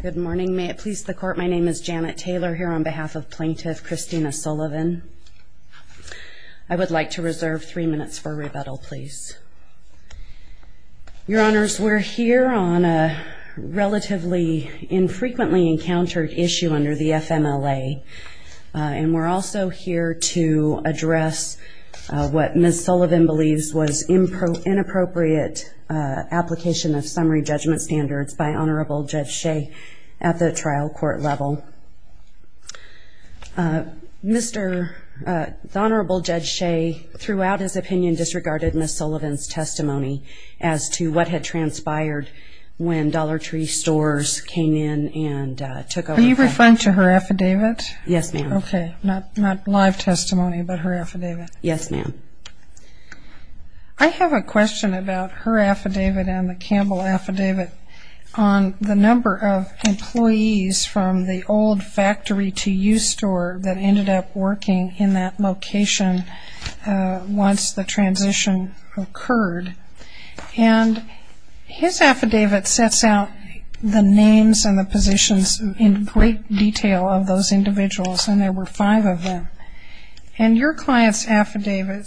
Good morning. May it please the court, my name is Janet Taylor here on behalf of Plaintiff Christina Sullivan. I would like to reserve three minutes for rebuttal, please. Your Honors, we're here on a relatively infrequently encountered issue under the FMLA. And we're also here to address what Ms. Sullivan believes was inappropriate application of summary judgment standards by Honorable Judge Shea at the trial court level. Mr. Honorable Judge Shea, throughout his opinion, disregarded Ms. Sullivan's testimony as to what had transpired when Dollar Tree Stores came in and took over. Are you referring to her affidavit? Yes, ma'am. OK, not live testimony, but her affidavit. Yes, ma'am. I have a question about her affidavit and the Campbell affidavit on the number of employees from the old factory to use store that ended up working in that location once the transition occurred. And his affidavit sets out the names and the positions in great detail of those individuals, and there were five of them. And your client's affidavit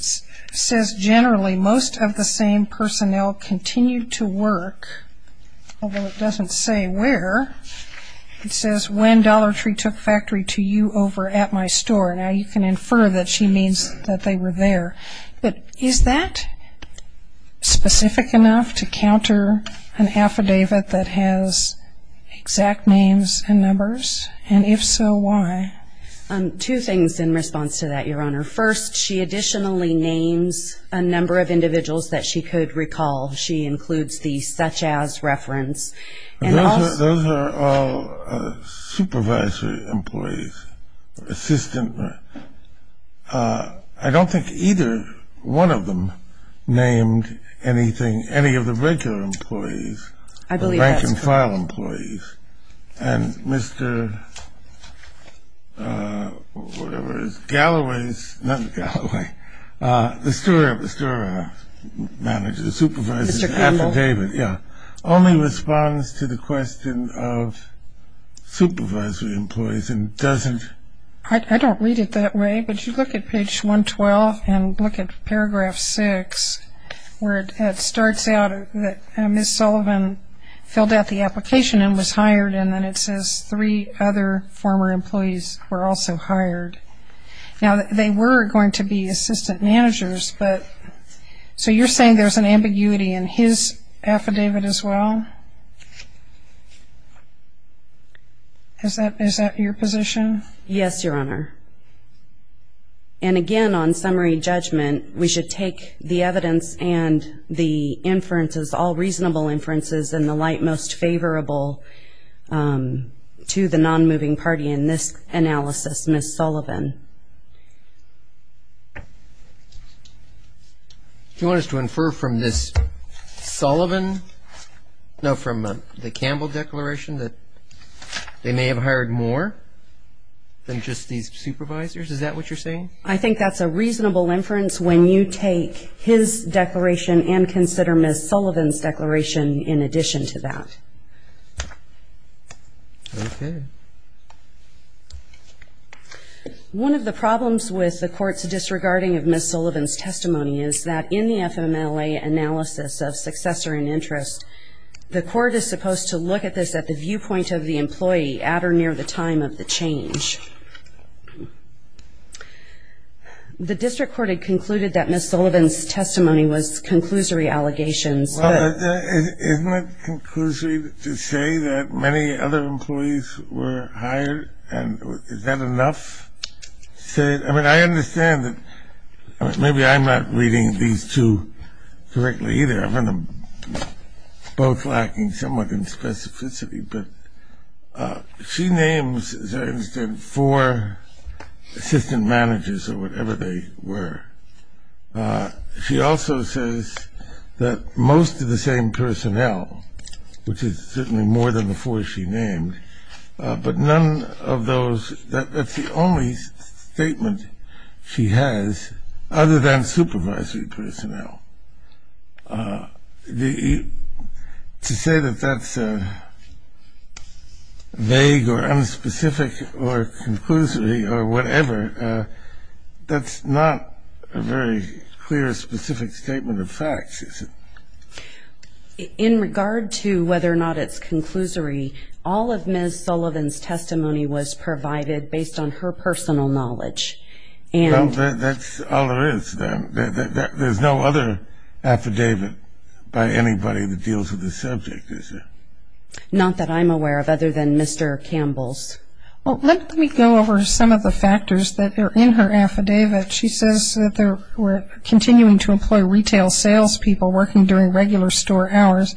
says, generally, most of the same personnel continued to work, although it doesn't say where. It says, when Dollar Tree took factory to you over at my store. Now, you can infer that she means that they were there. But is that specific enough to counter an affidavit that has exact names and numbers? And if so, why? Two things in response to that, Your Honor. First, she additionally names a number of individuals that she could recall. She includes the such as reference. And also, those are all supervisory employees, assistant. I don't think either one of them named anything, any of the regular employees, the bank and file employees. And Mr. whatever it is, Galloway's, not Galloway, the store manager, supervisor's affidavit, only responds to the question of supervisory employees and doesn't. I don't read it that way, but you look at page 112 and look at paragraph 6, where it starts out that Ms. Sullivan filled out the application and was hired. And then it says, three other former employees were also hired. Now, they were going to be assistant managers. So you're saying there's an ambiguity in his affidavit as well? Is that your position? Yes, Your Honor. And again, on summary judgment, we should take the evidence and the inferences, all reasonable inferences, and the light most favorable to the non-moving party in this analysis, Ms. Sullivan. Do you want us to infer from this Sullivan, no, from the Campbell declaration that they may have hired more than just these supervisors? Is that what you're saying? I think that's a reasonable inference. When you take his declaration and consider Ms. Sullivan's declaration in addition to that. One of the problems with the court's disregarding of Ms. Sullivan's testimony is that in the FMLA analysis of successor and interest, the court is supposed to look at this at the viewpoint of the employee at or near the time of the change. The district court had concluded that Ms. Sullivan's testimony was conclusory allegations. Well, isn't it conclusory to say that many other employees were hired, and is that enough? I mean, I understand that maybe I'm not reading these two correctly either. I find them both lacking somewhat in specificity. But she names, as I understand, four employees for assistant managers or whatever they were. She also says that most of the same personnel, which is certainly more than the four she named, but none of those, that's the only statement she has other than supervisory personnel. So to say that that's vague or unspecific or conclusory or whatever, that's not a very clear, specific statement of facts, is it? In regard to whether or not it's conclusory, all of Ms. Sullivan's testimony was provided based on her personal knowledge. Well, that's all there is. There's no other affidavit by anybody that deals with the subject, is there? Not that I'm aware of, other than Mr. Campbell's. Well, let me go over some of the factors that are in her affidavit. She says that we're continuing to employ retail salespeople working during regular store hours.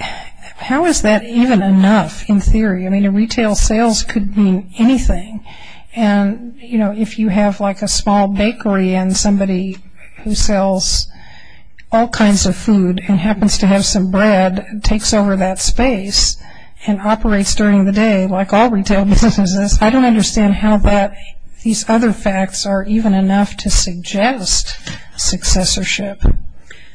How is that even enough, in theory? I mean, a retail sales could mean anything. And if you have a small bakery and somebody who sells all kinds of food and happens to have some bread and takes over that space and operates during the day, like all retail businesses, I don't understand how these other facts are even enough to suggest successorship.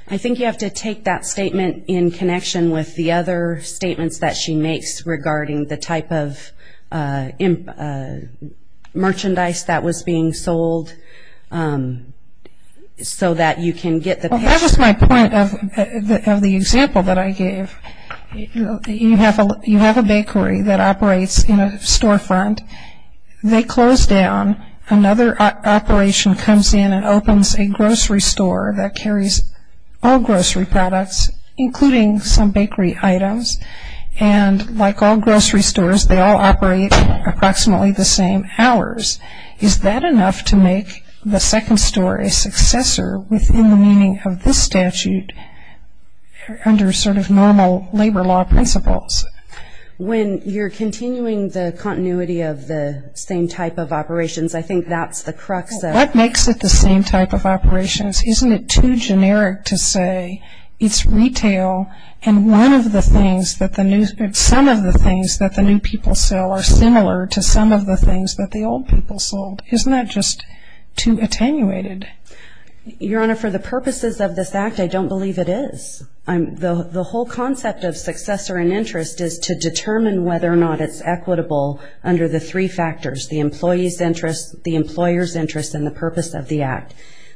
I think you have to take that statement in connection with the other statements that she makes regarding the type of merchandise that was being sold, so that you can get the patience. Well, that was my point of the example that I gave. You have a bakery that operates in a storefront. They close down. Another operation comes in and opens a grocery store that carries all grocery products, including some bakery items. And like all grocery stores, they all operate approximately the same hours. Is that enough to make the second store a successor within the meaning of this statute under sort of normal labor law principles? When you're continuing the continuity of the same type of operations, I think that's the crux of it. What makes it the same type of operations? Isn't it too generic to say it's retail? And some of the things that the new people sell are similar to some of the things that the old people sold. Isn't that just too attenuated? Your Honor, for the purposes of this act, I don't believe it is. The whole concept of successor and interest is to determine whether or not it's equitable under the three factors, the employee's interest, the employer's interest, and the purpose of the act.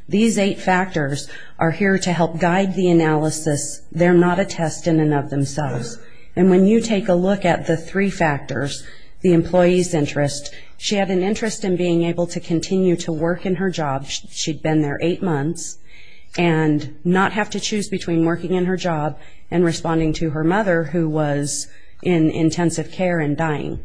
These eight factors are here to help guide the analysis. They're not a test in and of themselves. And when you take a look at the three factors, the employee's interest, she had an interest in being able to continue to work in her job. She'd been there eight months and not have to choose between working in her job and responding to her mother, who was in intensive care and dying.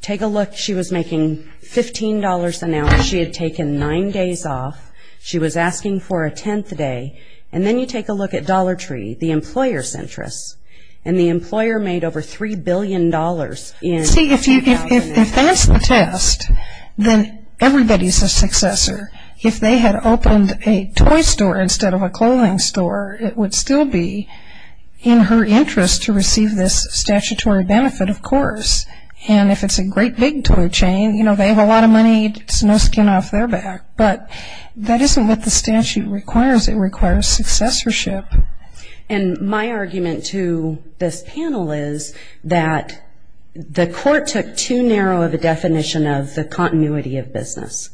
Take a look. She was making $15 an hour. She had taken nine days off. She was asking for a 10th day. And then you take a look at Dollar Tree, the employer's interest. And the employer made over $3 billion in the company. See, if that's the test, then everybody's a successor. If they had opened a toy store instead of a clothing store, it would still be in her interest to receive this statutory benefit, of course. And if it's a great big toy chain, they have a lot of money, it's no skin off their back. But that isn't what the statute requires. It requires successorship. And my argument to this panel is that the court took too narrow of a definition of the continuity of business.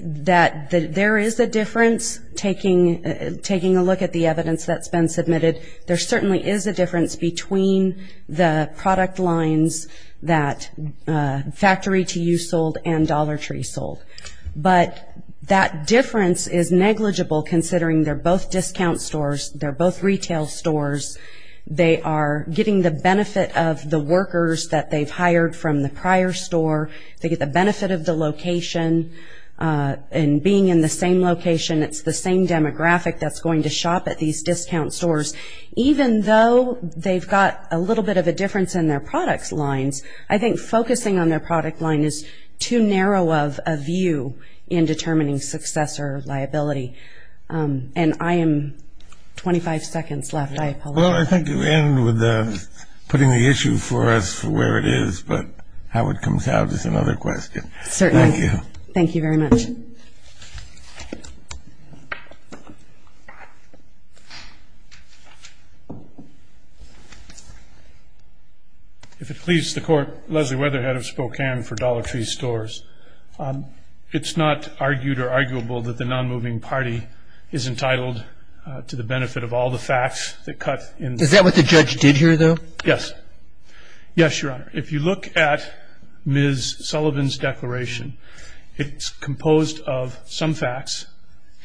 That there is a difference, taking a look at the evidence that's been submitted, there certainly is a difference between the product lines that Factory to You sold and Dollar Tree sold. But that difference is negligible, considering they're both discount stores. They're both retail stores. They are getting the benefit of the workers that they've hired from the prior store. They get the benefit of the location. And being in the same location, it's the same demographic that's going to shop at these discount stores. Even though they've got a little bit of a difference in their product lines, I think focusing on their product line is too narrow of a view in determining successor liability. And I am 25 seconds left. I apologize. Well, I think you end with putting the issue for us for where it is. But how it comes out is another question. Certainly. Thank you very much. If it pleases the court, Leslie Weatherhead of Spokane for Dollar Tree Stores, it's not argued or arguable that the non-moving party is entitled to the benefit of all the facts that cut in. Is that what the judge did here, though? Yes. Yes, Your Honor. If you look at Ms. Sullivan's declaration, it's composed of some facts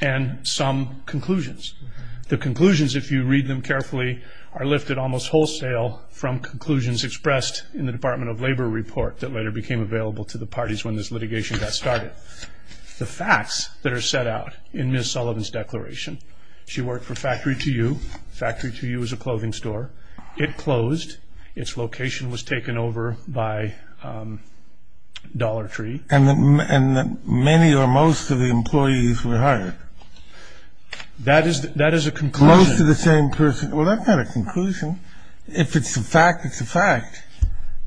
and some conclusions. The conclusions, if you read them carefully, are lifted almost wholesale from conclusions expressed in the Department of Labor report that later became available to the parties when this litigation got started. The facts that are set out in Ms. Sullivan's declaration, she worked for Factory 2U. Factory 2U is a clothing store. It closed. Its location was taken over by Dollar Tree. And many or most of the employees were hired. That is a conclusion. Close to the same person. Well, that's not a conclusion. If it's a fact, it's a fact.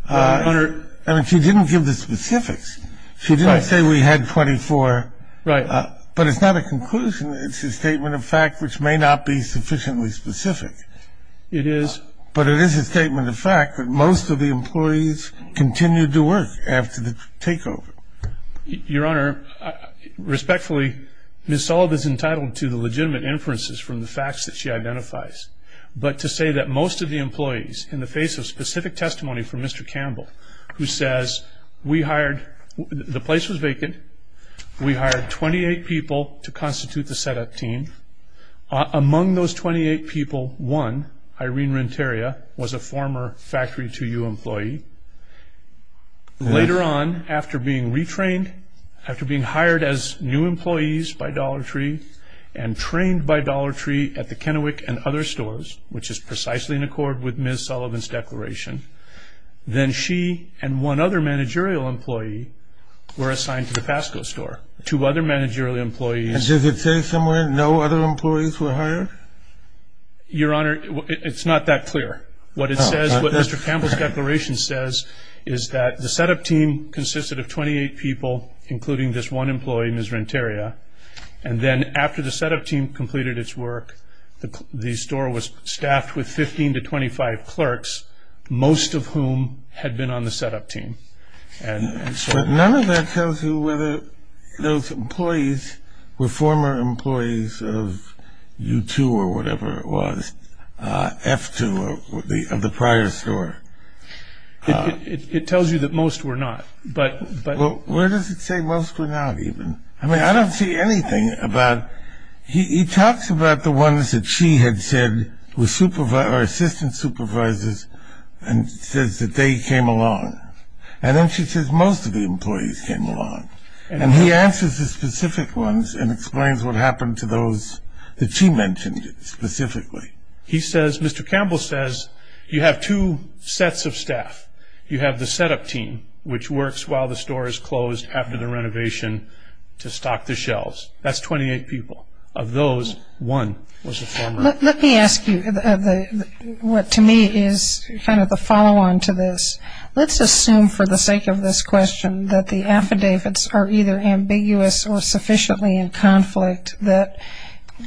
I mean, she didn't give the specifics. She didn't say we had 24. Right. But it's not a conclusion. It's a statement of fact, which may not be sufficiently specific. It is. But it is a statement of fact that most of the employees continued to work after the takeover. Your Honor, respectfully, Ms. Sullivan is entitled to the legitimate inferences from the facts that she identifies. But to say that most of the employees, in the face of specific testimony from Mr. Campbell, who says, we hired, the place was vacant. We hired 28 people to constitute the setup team. Among those 28 people, one, Irene Renteria, was a former Factory 2U employee. Later on, after being retrained, after being hired as new employees by Dollar Tree, and trained by Dollar Tree at the Kennewick and other stores, which is precisely in accord with Ms. Sullivan's declaration, then she and one other managerial employee were assigned to the Fasco store. Two other managerial employees. And does it say somewhere no other employees were hired? Your Honor, it's not that clear. What it says, what Mr. Campbell's declaration says is that the setup team consisted of 28 people, including this one employee, Ms. Renteria. And then after the setup team completed its work, the store was staffed with 15 to 25 clerks, most of whom had been on the setup team. And so none of that tells you whether those employees were former employees of U2, or whatever it was, F2, of the prior store. It tells you that most were not. But where does it say most were not, even? I mean, I don't see anything about, he talks about the ones that she had said were assistant supervisors, and says that they came along. And then she says most of the employees came along. And he answers the specific ones and explains what happened to those that she mentioned specifically. He says, Mr. Campbell says, you have two sets of staff. You have the setup team, which works while the store is closed after the renovation to stock the shelves. That's 28 people. Of those, one was a former. Let me ask you what, to me, is kind of the follow-on to this. Let's assume, for the sake of this question, that the affidavits are either ambiguous or sufficiently in conflict that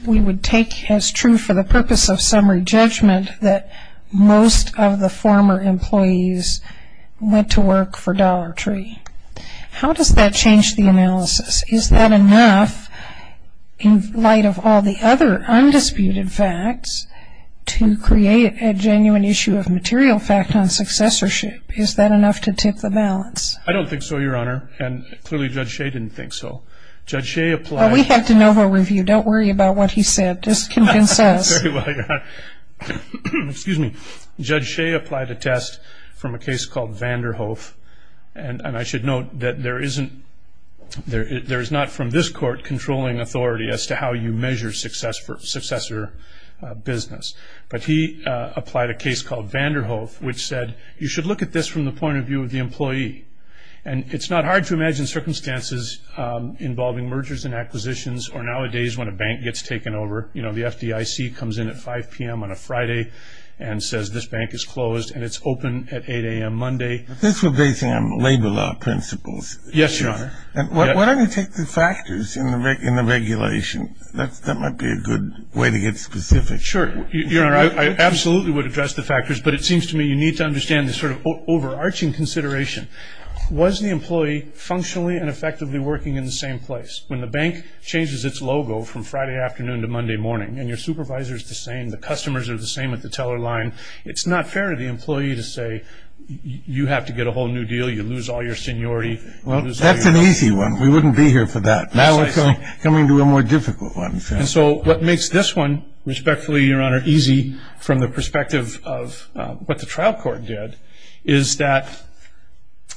we would take as true for the purpose of summary judgment that most of the former employees went to work for Dollar Tree. How does that change the analysis? Is that enough, in light of all the other undisputed facts, to create a genuine issue of material fact on successorship? Is that enough to tip the balance? I don't think so, Your Honor. And clearly, Judge Shea didn't think so. Judge Shea applied. We have to know her review. Don't worry about what he said. Just convince us. Very well, Your Honor. Excuse me. Judge Shea applied a test from a case called Vanderhoef. And I should note that there is not, from this court, controlling authority as to how you measure successor business. But he applied a case called Vanderhoef, which said you should look at this from the point of view of the employee. And it's not hard to imagine circumstances involving mergers and acquisitions, or nowadays, when a bank gets taken over. The FDIC comes in at 5 PM on a Friday and says this bank is closed. And it's open at 8 AM Monday. This would base him on labor law principles. Yes, Your Honor. And why don't you take the factors in the regulation? That might be a good way to get specific. Sure. Your Honor, I absolutely would address the factors. But it seems to me you need to understand the sort of overarching consideration. Was the employee functionally and effectively working in the same place? When the bank changes its logo from Friday afternoon to Monday morning, and your supervisor's the same, the customers are the same at the teller line, it's not fair to the employee to say you have to get a whole new deal. You lose all your seniority. Well, that's an easy one. We wouldn't be here for that. Now we're coming to a more difficult one. And so what makes this one, respectfully, Your Honor, easy from the perspective of what the trial court did is that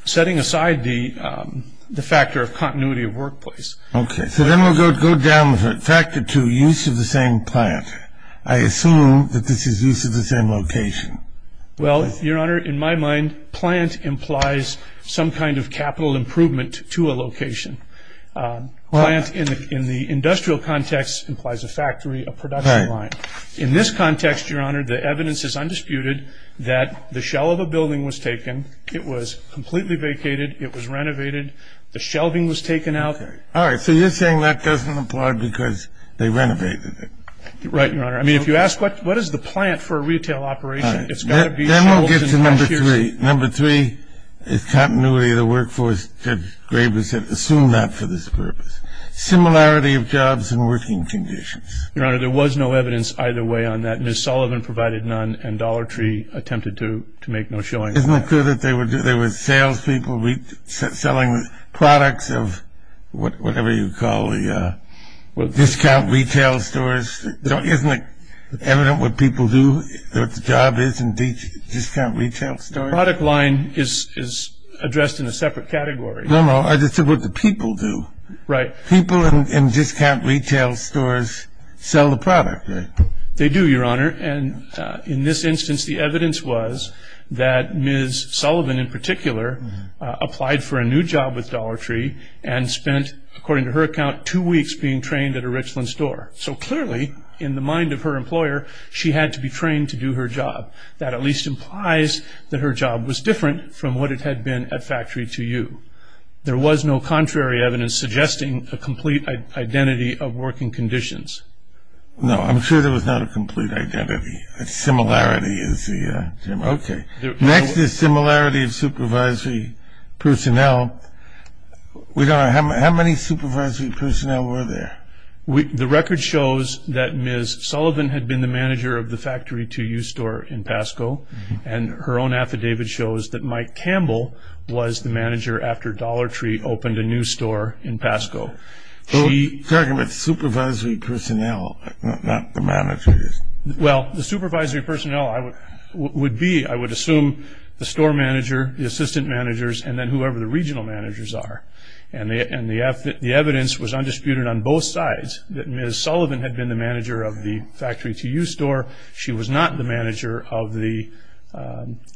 setting aside the factor of continuity of workplace. OK, so then we'll go down factor two, use of the same plant. I assume that this is use of the same location. Well, Your Honor, in my mind, plant implies some kind of capital improvement to a location. Plant, in the industrial context, implies a factory, a production line. In this context, Your Honor, the evidence is undisputed that the shell of a building was taken. It was completely vacated. It was renovated. The shelving was taken out. All right, so you're saying that doesn't apply because they renovated it. Right, Your Honor. I mean, if you ask what is the plant for a retail operation, it's got to be shells and vacuums. Then we'll get to number three. Number three is continuity of the workforce. Ted Graves had assumed that for this purpose. Similarity of jobs and working conditions. Your Honor, there was no evidence either way on that. Ms. Sullivan provided none, and Dollar Tree attempted to make no showing of that. Isn't it true that there were salespeople selling products of whatever you call the discount retail stores? Isn't it evident what people do, what the job is in discount retail stores? Product line is addressed in a separate category. No, no, I just said what the people do. Right. People in discount retail stores sell the product, right? They do, Your Honor. And in this instance, the evidence was that Ms. Sullivan, in particular, applied for a new job with Dollar Tree and spent, according to her account, two weeks being trained at a Richland store. So clearly, in the mind of her employer, she had to be trained to do her job. That at least implies that her job was different from what it had been at factory to you. There was no contrary evidence suggesting a complete identity of working conditions. No, I'm sure there was not a complete identity. Similarity is the term. OK. Next is similarity of supervisory personnel. We don't know, how many supervisory personnel were there? The record shows that Ms. Sullivan had been the manager of the factory to you store in Pasco. And her own affidavit shows that Mike Campbell was the manager after Dollar Tree opened a new store in Pasco. Talking about supervisory personnel, not the managers. Well, the supervisory personnel would be, I would assume, the store manager, the assistant managers, and then whoever the regional managers are. And the evidence was undisputed on both sides, that Ms. Sullivan had been the manager of the factory to you store. She was not the manager of the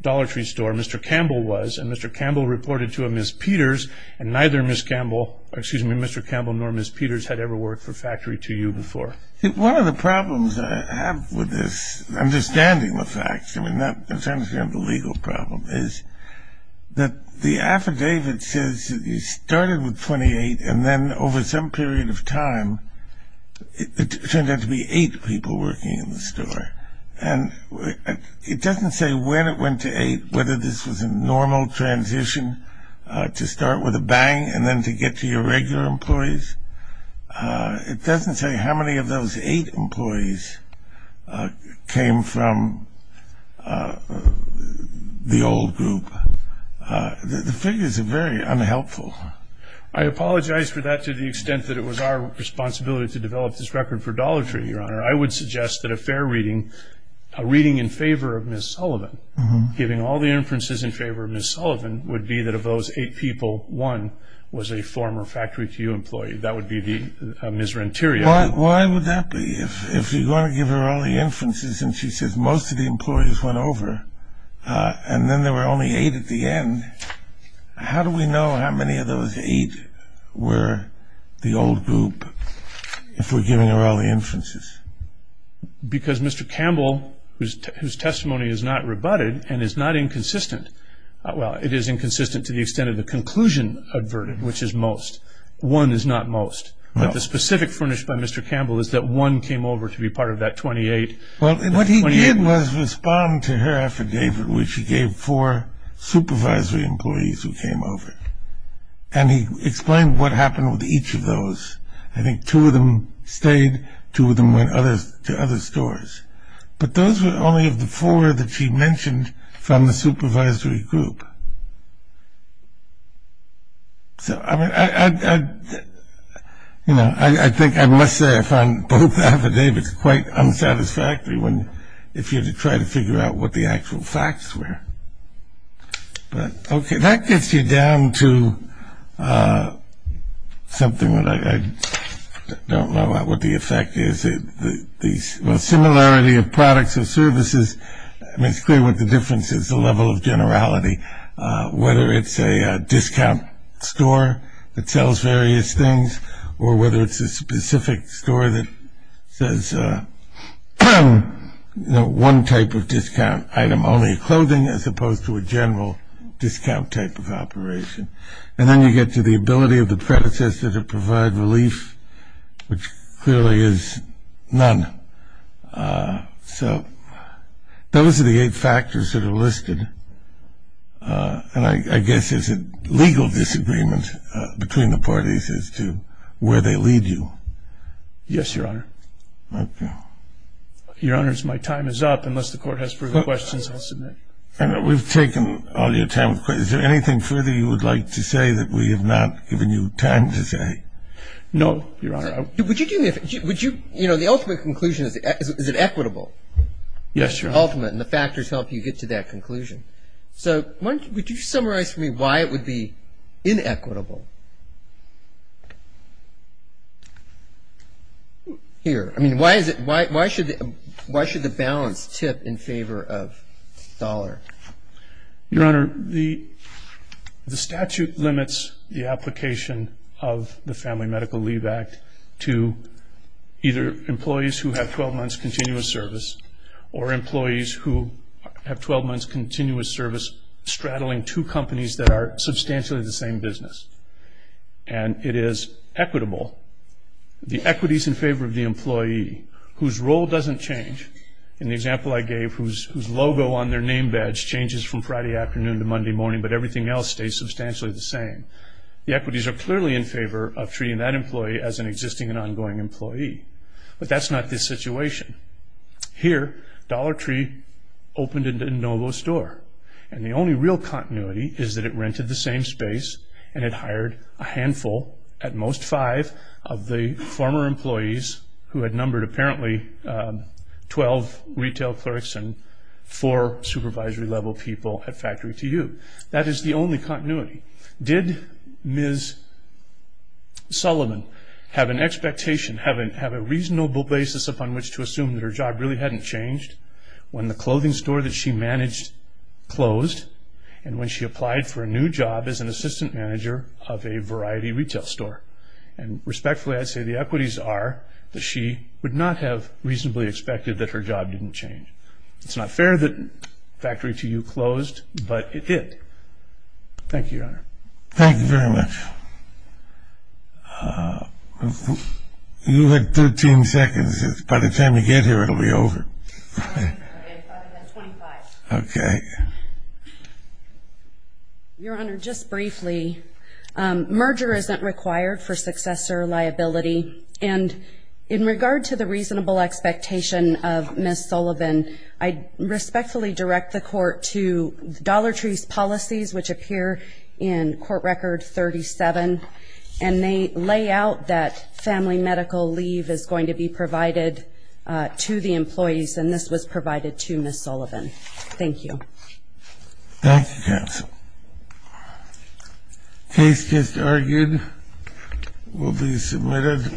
Dollar Tree store. Mr. Campbell was. And Mr. Campbell reported to a Ms. Peters. And neither Ms. Campbell, or excuse me, Mr. Campbell nor Ms. Peters had ever worked for factory to you before. One of the problems I have with this understanding of facts, I mean, that's understandably a legal problem, is that the affidavit says that you started with 28, and then over some period of time, it turned out to be eight people working in the store. And it doesn't say when it went to eight, whether this was a normal transition to start with a bang, and then to get to your regular employees. It doesn't say how many of those eight employees came from the old group. The figures are very unhelpful. I apologize for that to the extent that it was our responsibility to develop this record for Dollar Tree, Your Honor. I would suggest that a fair reading, a reading in favor of Ms. Sullivan, giving all the inferences in favor of Ms. Sullivan, would be that of those eight people, one was a former factory to you employee. That would be Ms. Renteria. Why would that be? If you're going to give her all the inferences, and she says most of the employees went over, and then there were only eight at the end, how do we know how many of those eight were the old group if we're giving her all the inferences? Because Mr. Campbell, whose testimony is not rebutted, and is not inconsistent, well, it is inconsistent to the extent of the conclusion adverted, which is most. One is not most. But the specific furnish by Mr. Campbell is that one came over to be part of that 28. Well, what he did was respond to her affidavit, which he gave four supervisory employees who came over. And he explained what happened with each of those. I think two of them stayed. Two of them went to other stores. But those were only of the four that she mentioned from the supervisory group. So I mean, I think I must say I find both affidavits quite unsatisfactory if you're to try to figure out what the actual facts were. But OK, that gets you down to something that I don't know what the effect is. Well, similarity of products or services, I mean, it's clear what the difference is, the level of generality, whether it's a discount store that sells various things or whether it's a specific store that says one type of discount item, only clothing, as opposed to a general discount type of operation. And then you get to the ability of the predecessor to provide relief, which clearly is none. So those are the eight factors that are listed. And I guess, is it legal disagreement between the parties as to where they lead you? Yes, Your Honor. Your Honors, my time is up. Unless the court has further questions, I'll submit. We've taken all your time. Is there anything further you would like to say that we have not given you time to say? No, Your Honor. Would you do me a favor? The ultimate conclusion, is it equitable? Yes, Your Honor. Ultimate, and the factors help you get to that conclusion. So would you summarize for me why it would be inequitable? Here, I mean, why should the balance tip in favor of dollar? Your Honor, the statute limits the application of the Family Medical Leave Act to either employees who have 12 months continuous service, or employees who have 12 months continuous service, straddling two companies that are substantially the same business. And it is equitable. The equities in favor of the employee, whose role doesn't change. In the example I gave, whose logo on their name badge changes from Friday afternoon to Monday morning, but everything else stays substantially the same. The equities are clearly in favor of treating that employee as an existing and ongoing employee. But that's not the situation. Here, Dollar Tree opened into a Novo store. And the only real continuity is that it rented the same space and it hired a handful, at most five, of the former employees who had numbered apparently 12 retail clerks and four supervisory level people at factory to you. That is the only continuity. Did Ms. Sullivan have an expectation, have a reasonable basis upon which to assume that her job really hadn't changed when the clothing store that she managed closed? And when she applied for a new job as an assistant manager of a variety retail store? And respectfully, I'd say the equities are that she would not have reasonably expected that her job didn't change. It's not fair that factory to you closed, but it did. Thank you, Your Honor. Thank you very much. You have 13 seconds. By the time you get here, it'll be over. I've got 25. OK. Your Honor, just briefly, merger isn't required for successor liability. And in regard to the reasonable expectation of Ms. Sullivan, I respectfully direct the court to Dollar Tree's policies, which appear in court record 37. And they lay out that family medical leave is going to be provided to the employees. And this was provided to Ms. Sullivan. Thank you. Thank you, counsel. Case just argued will be submitted.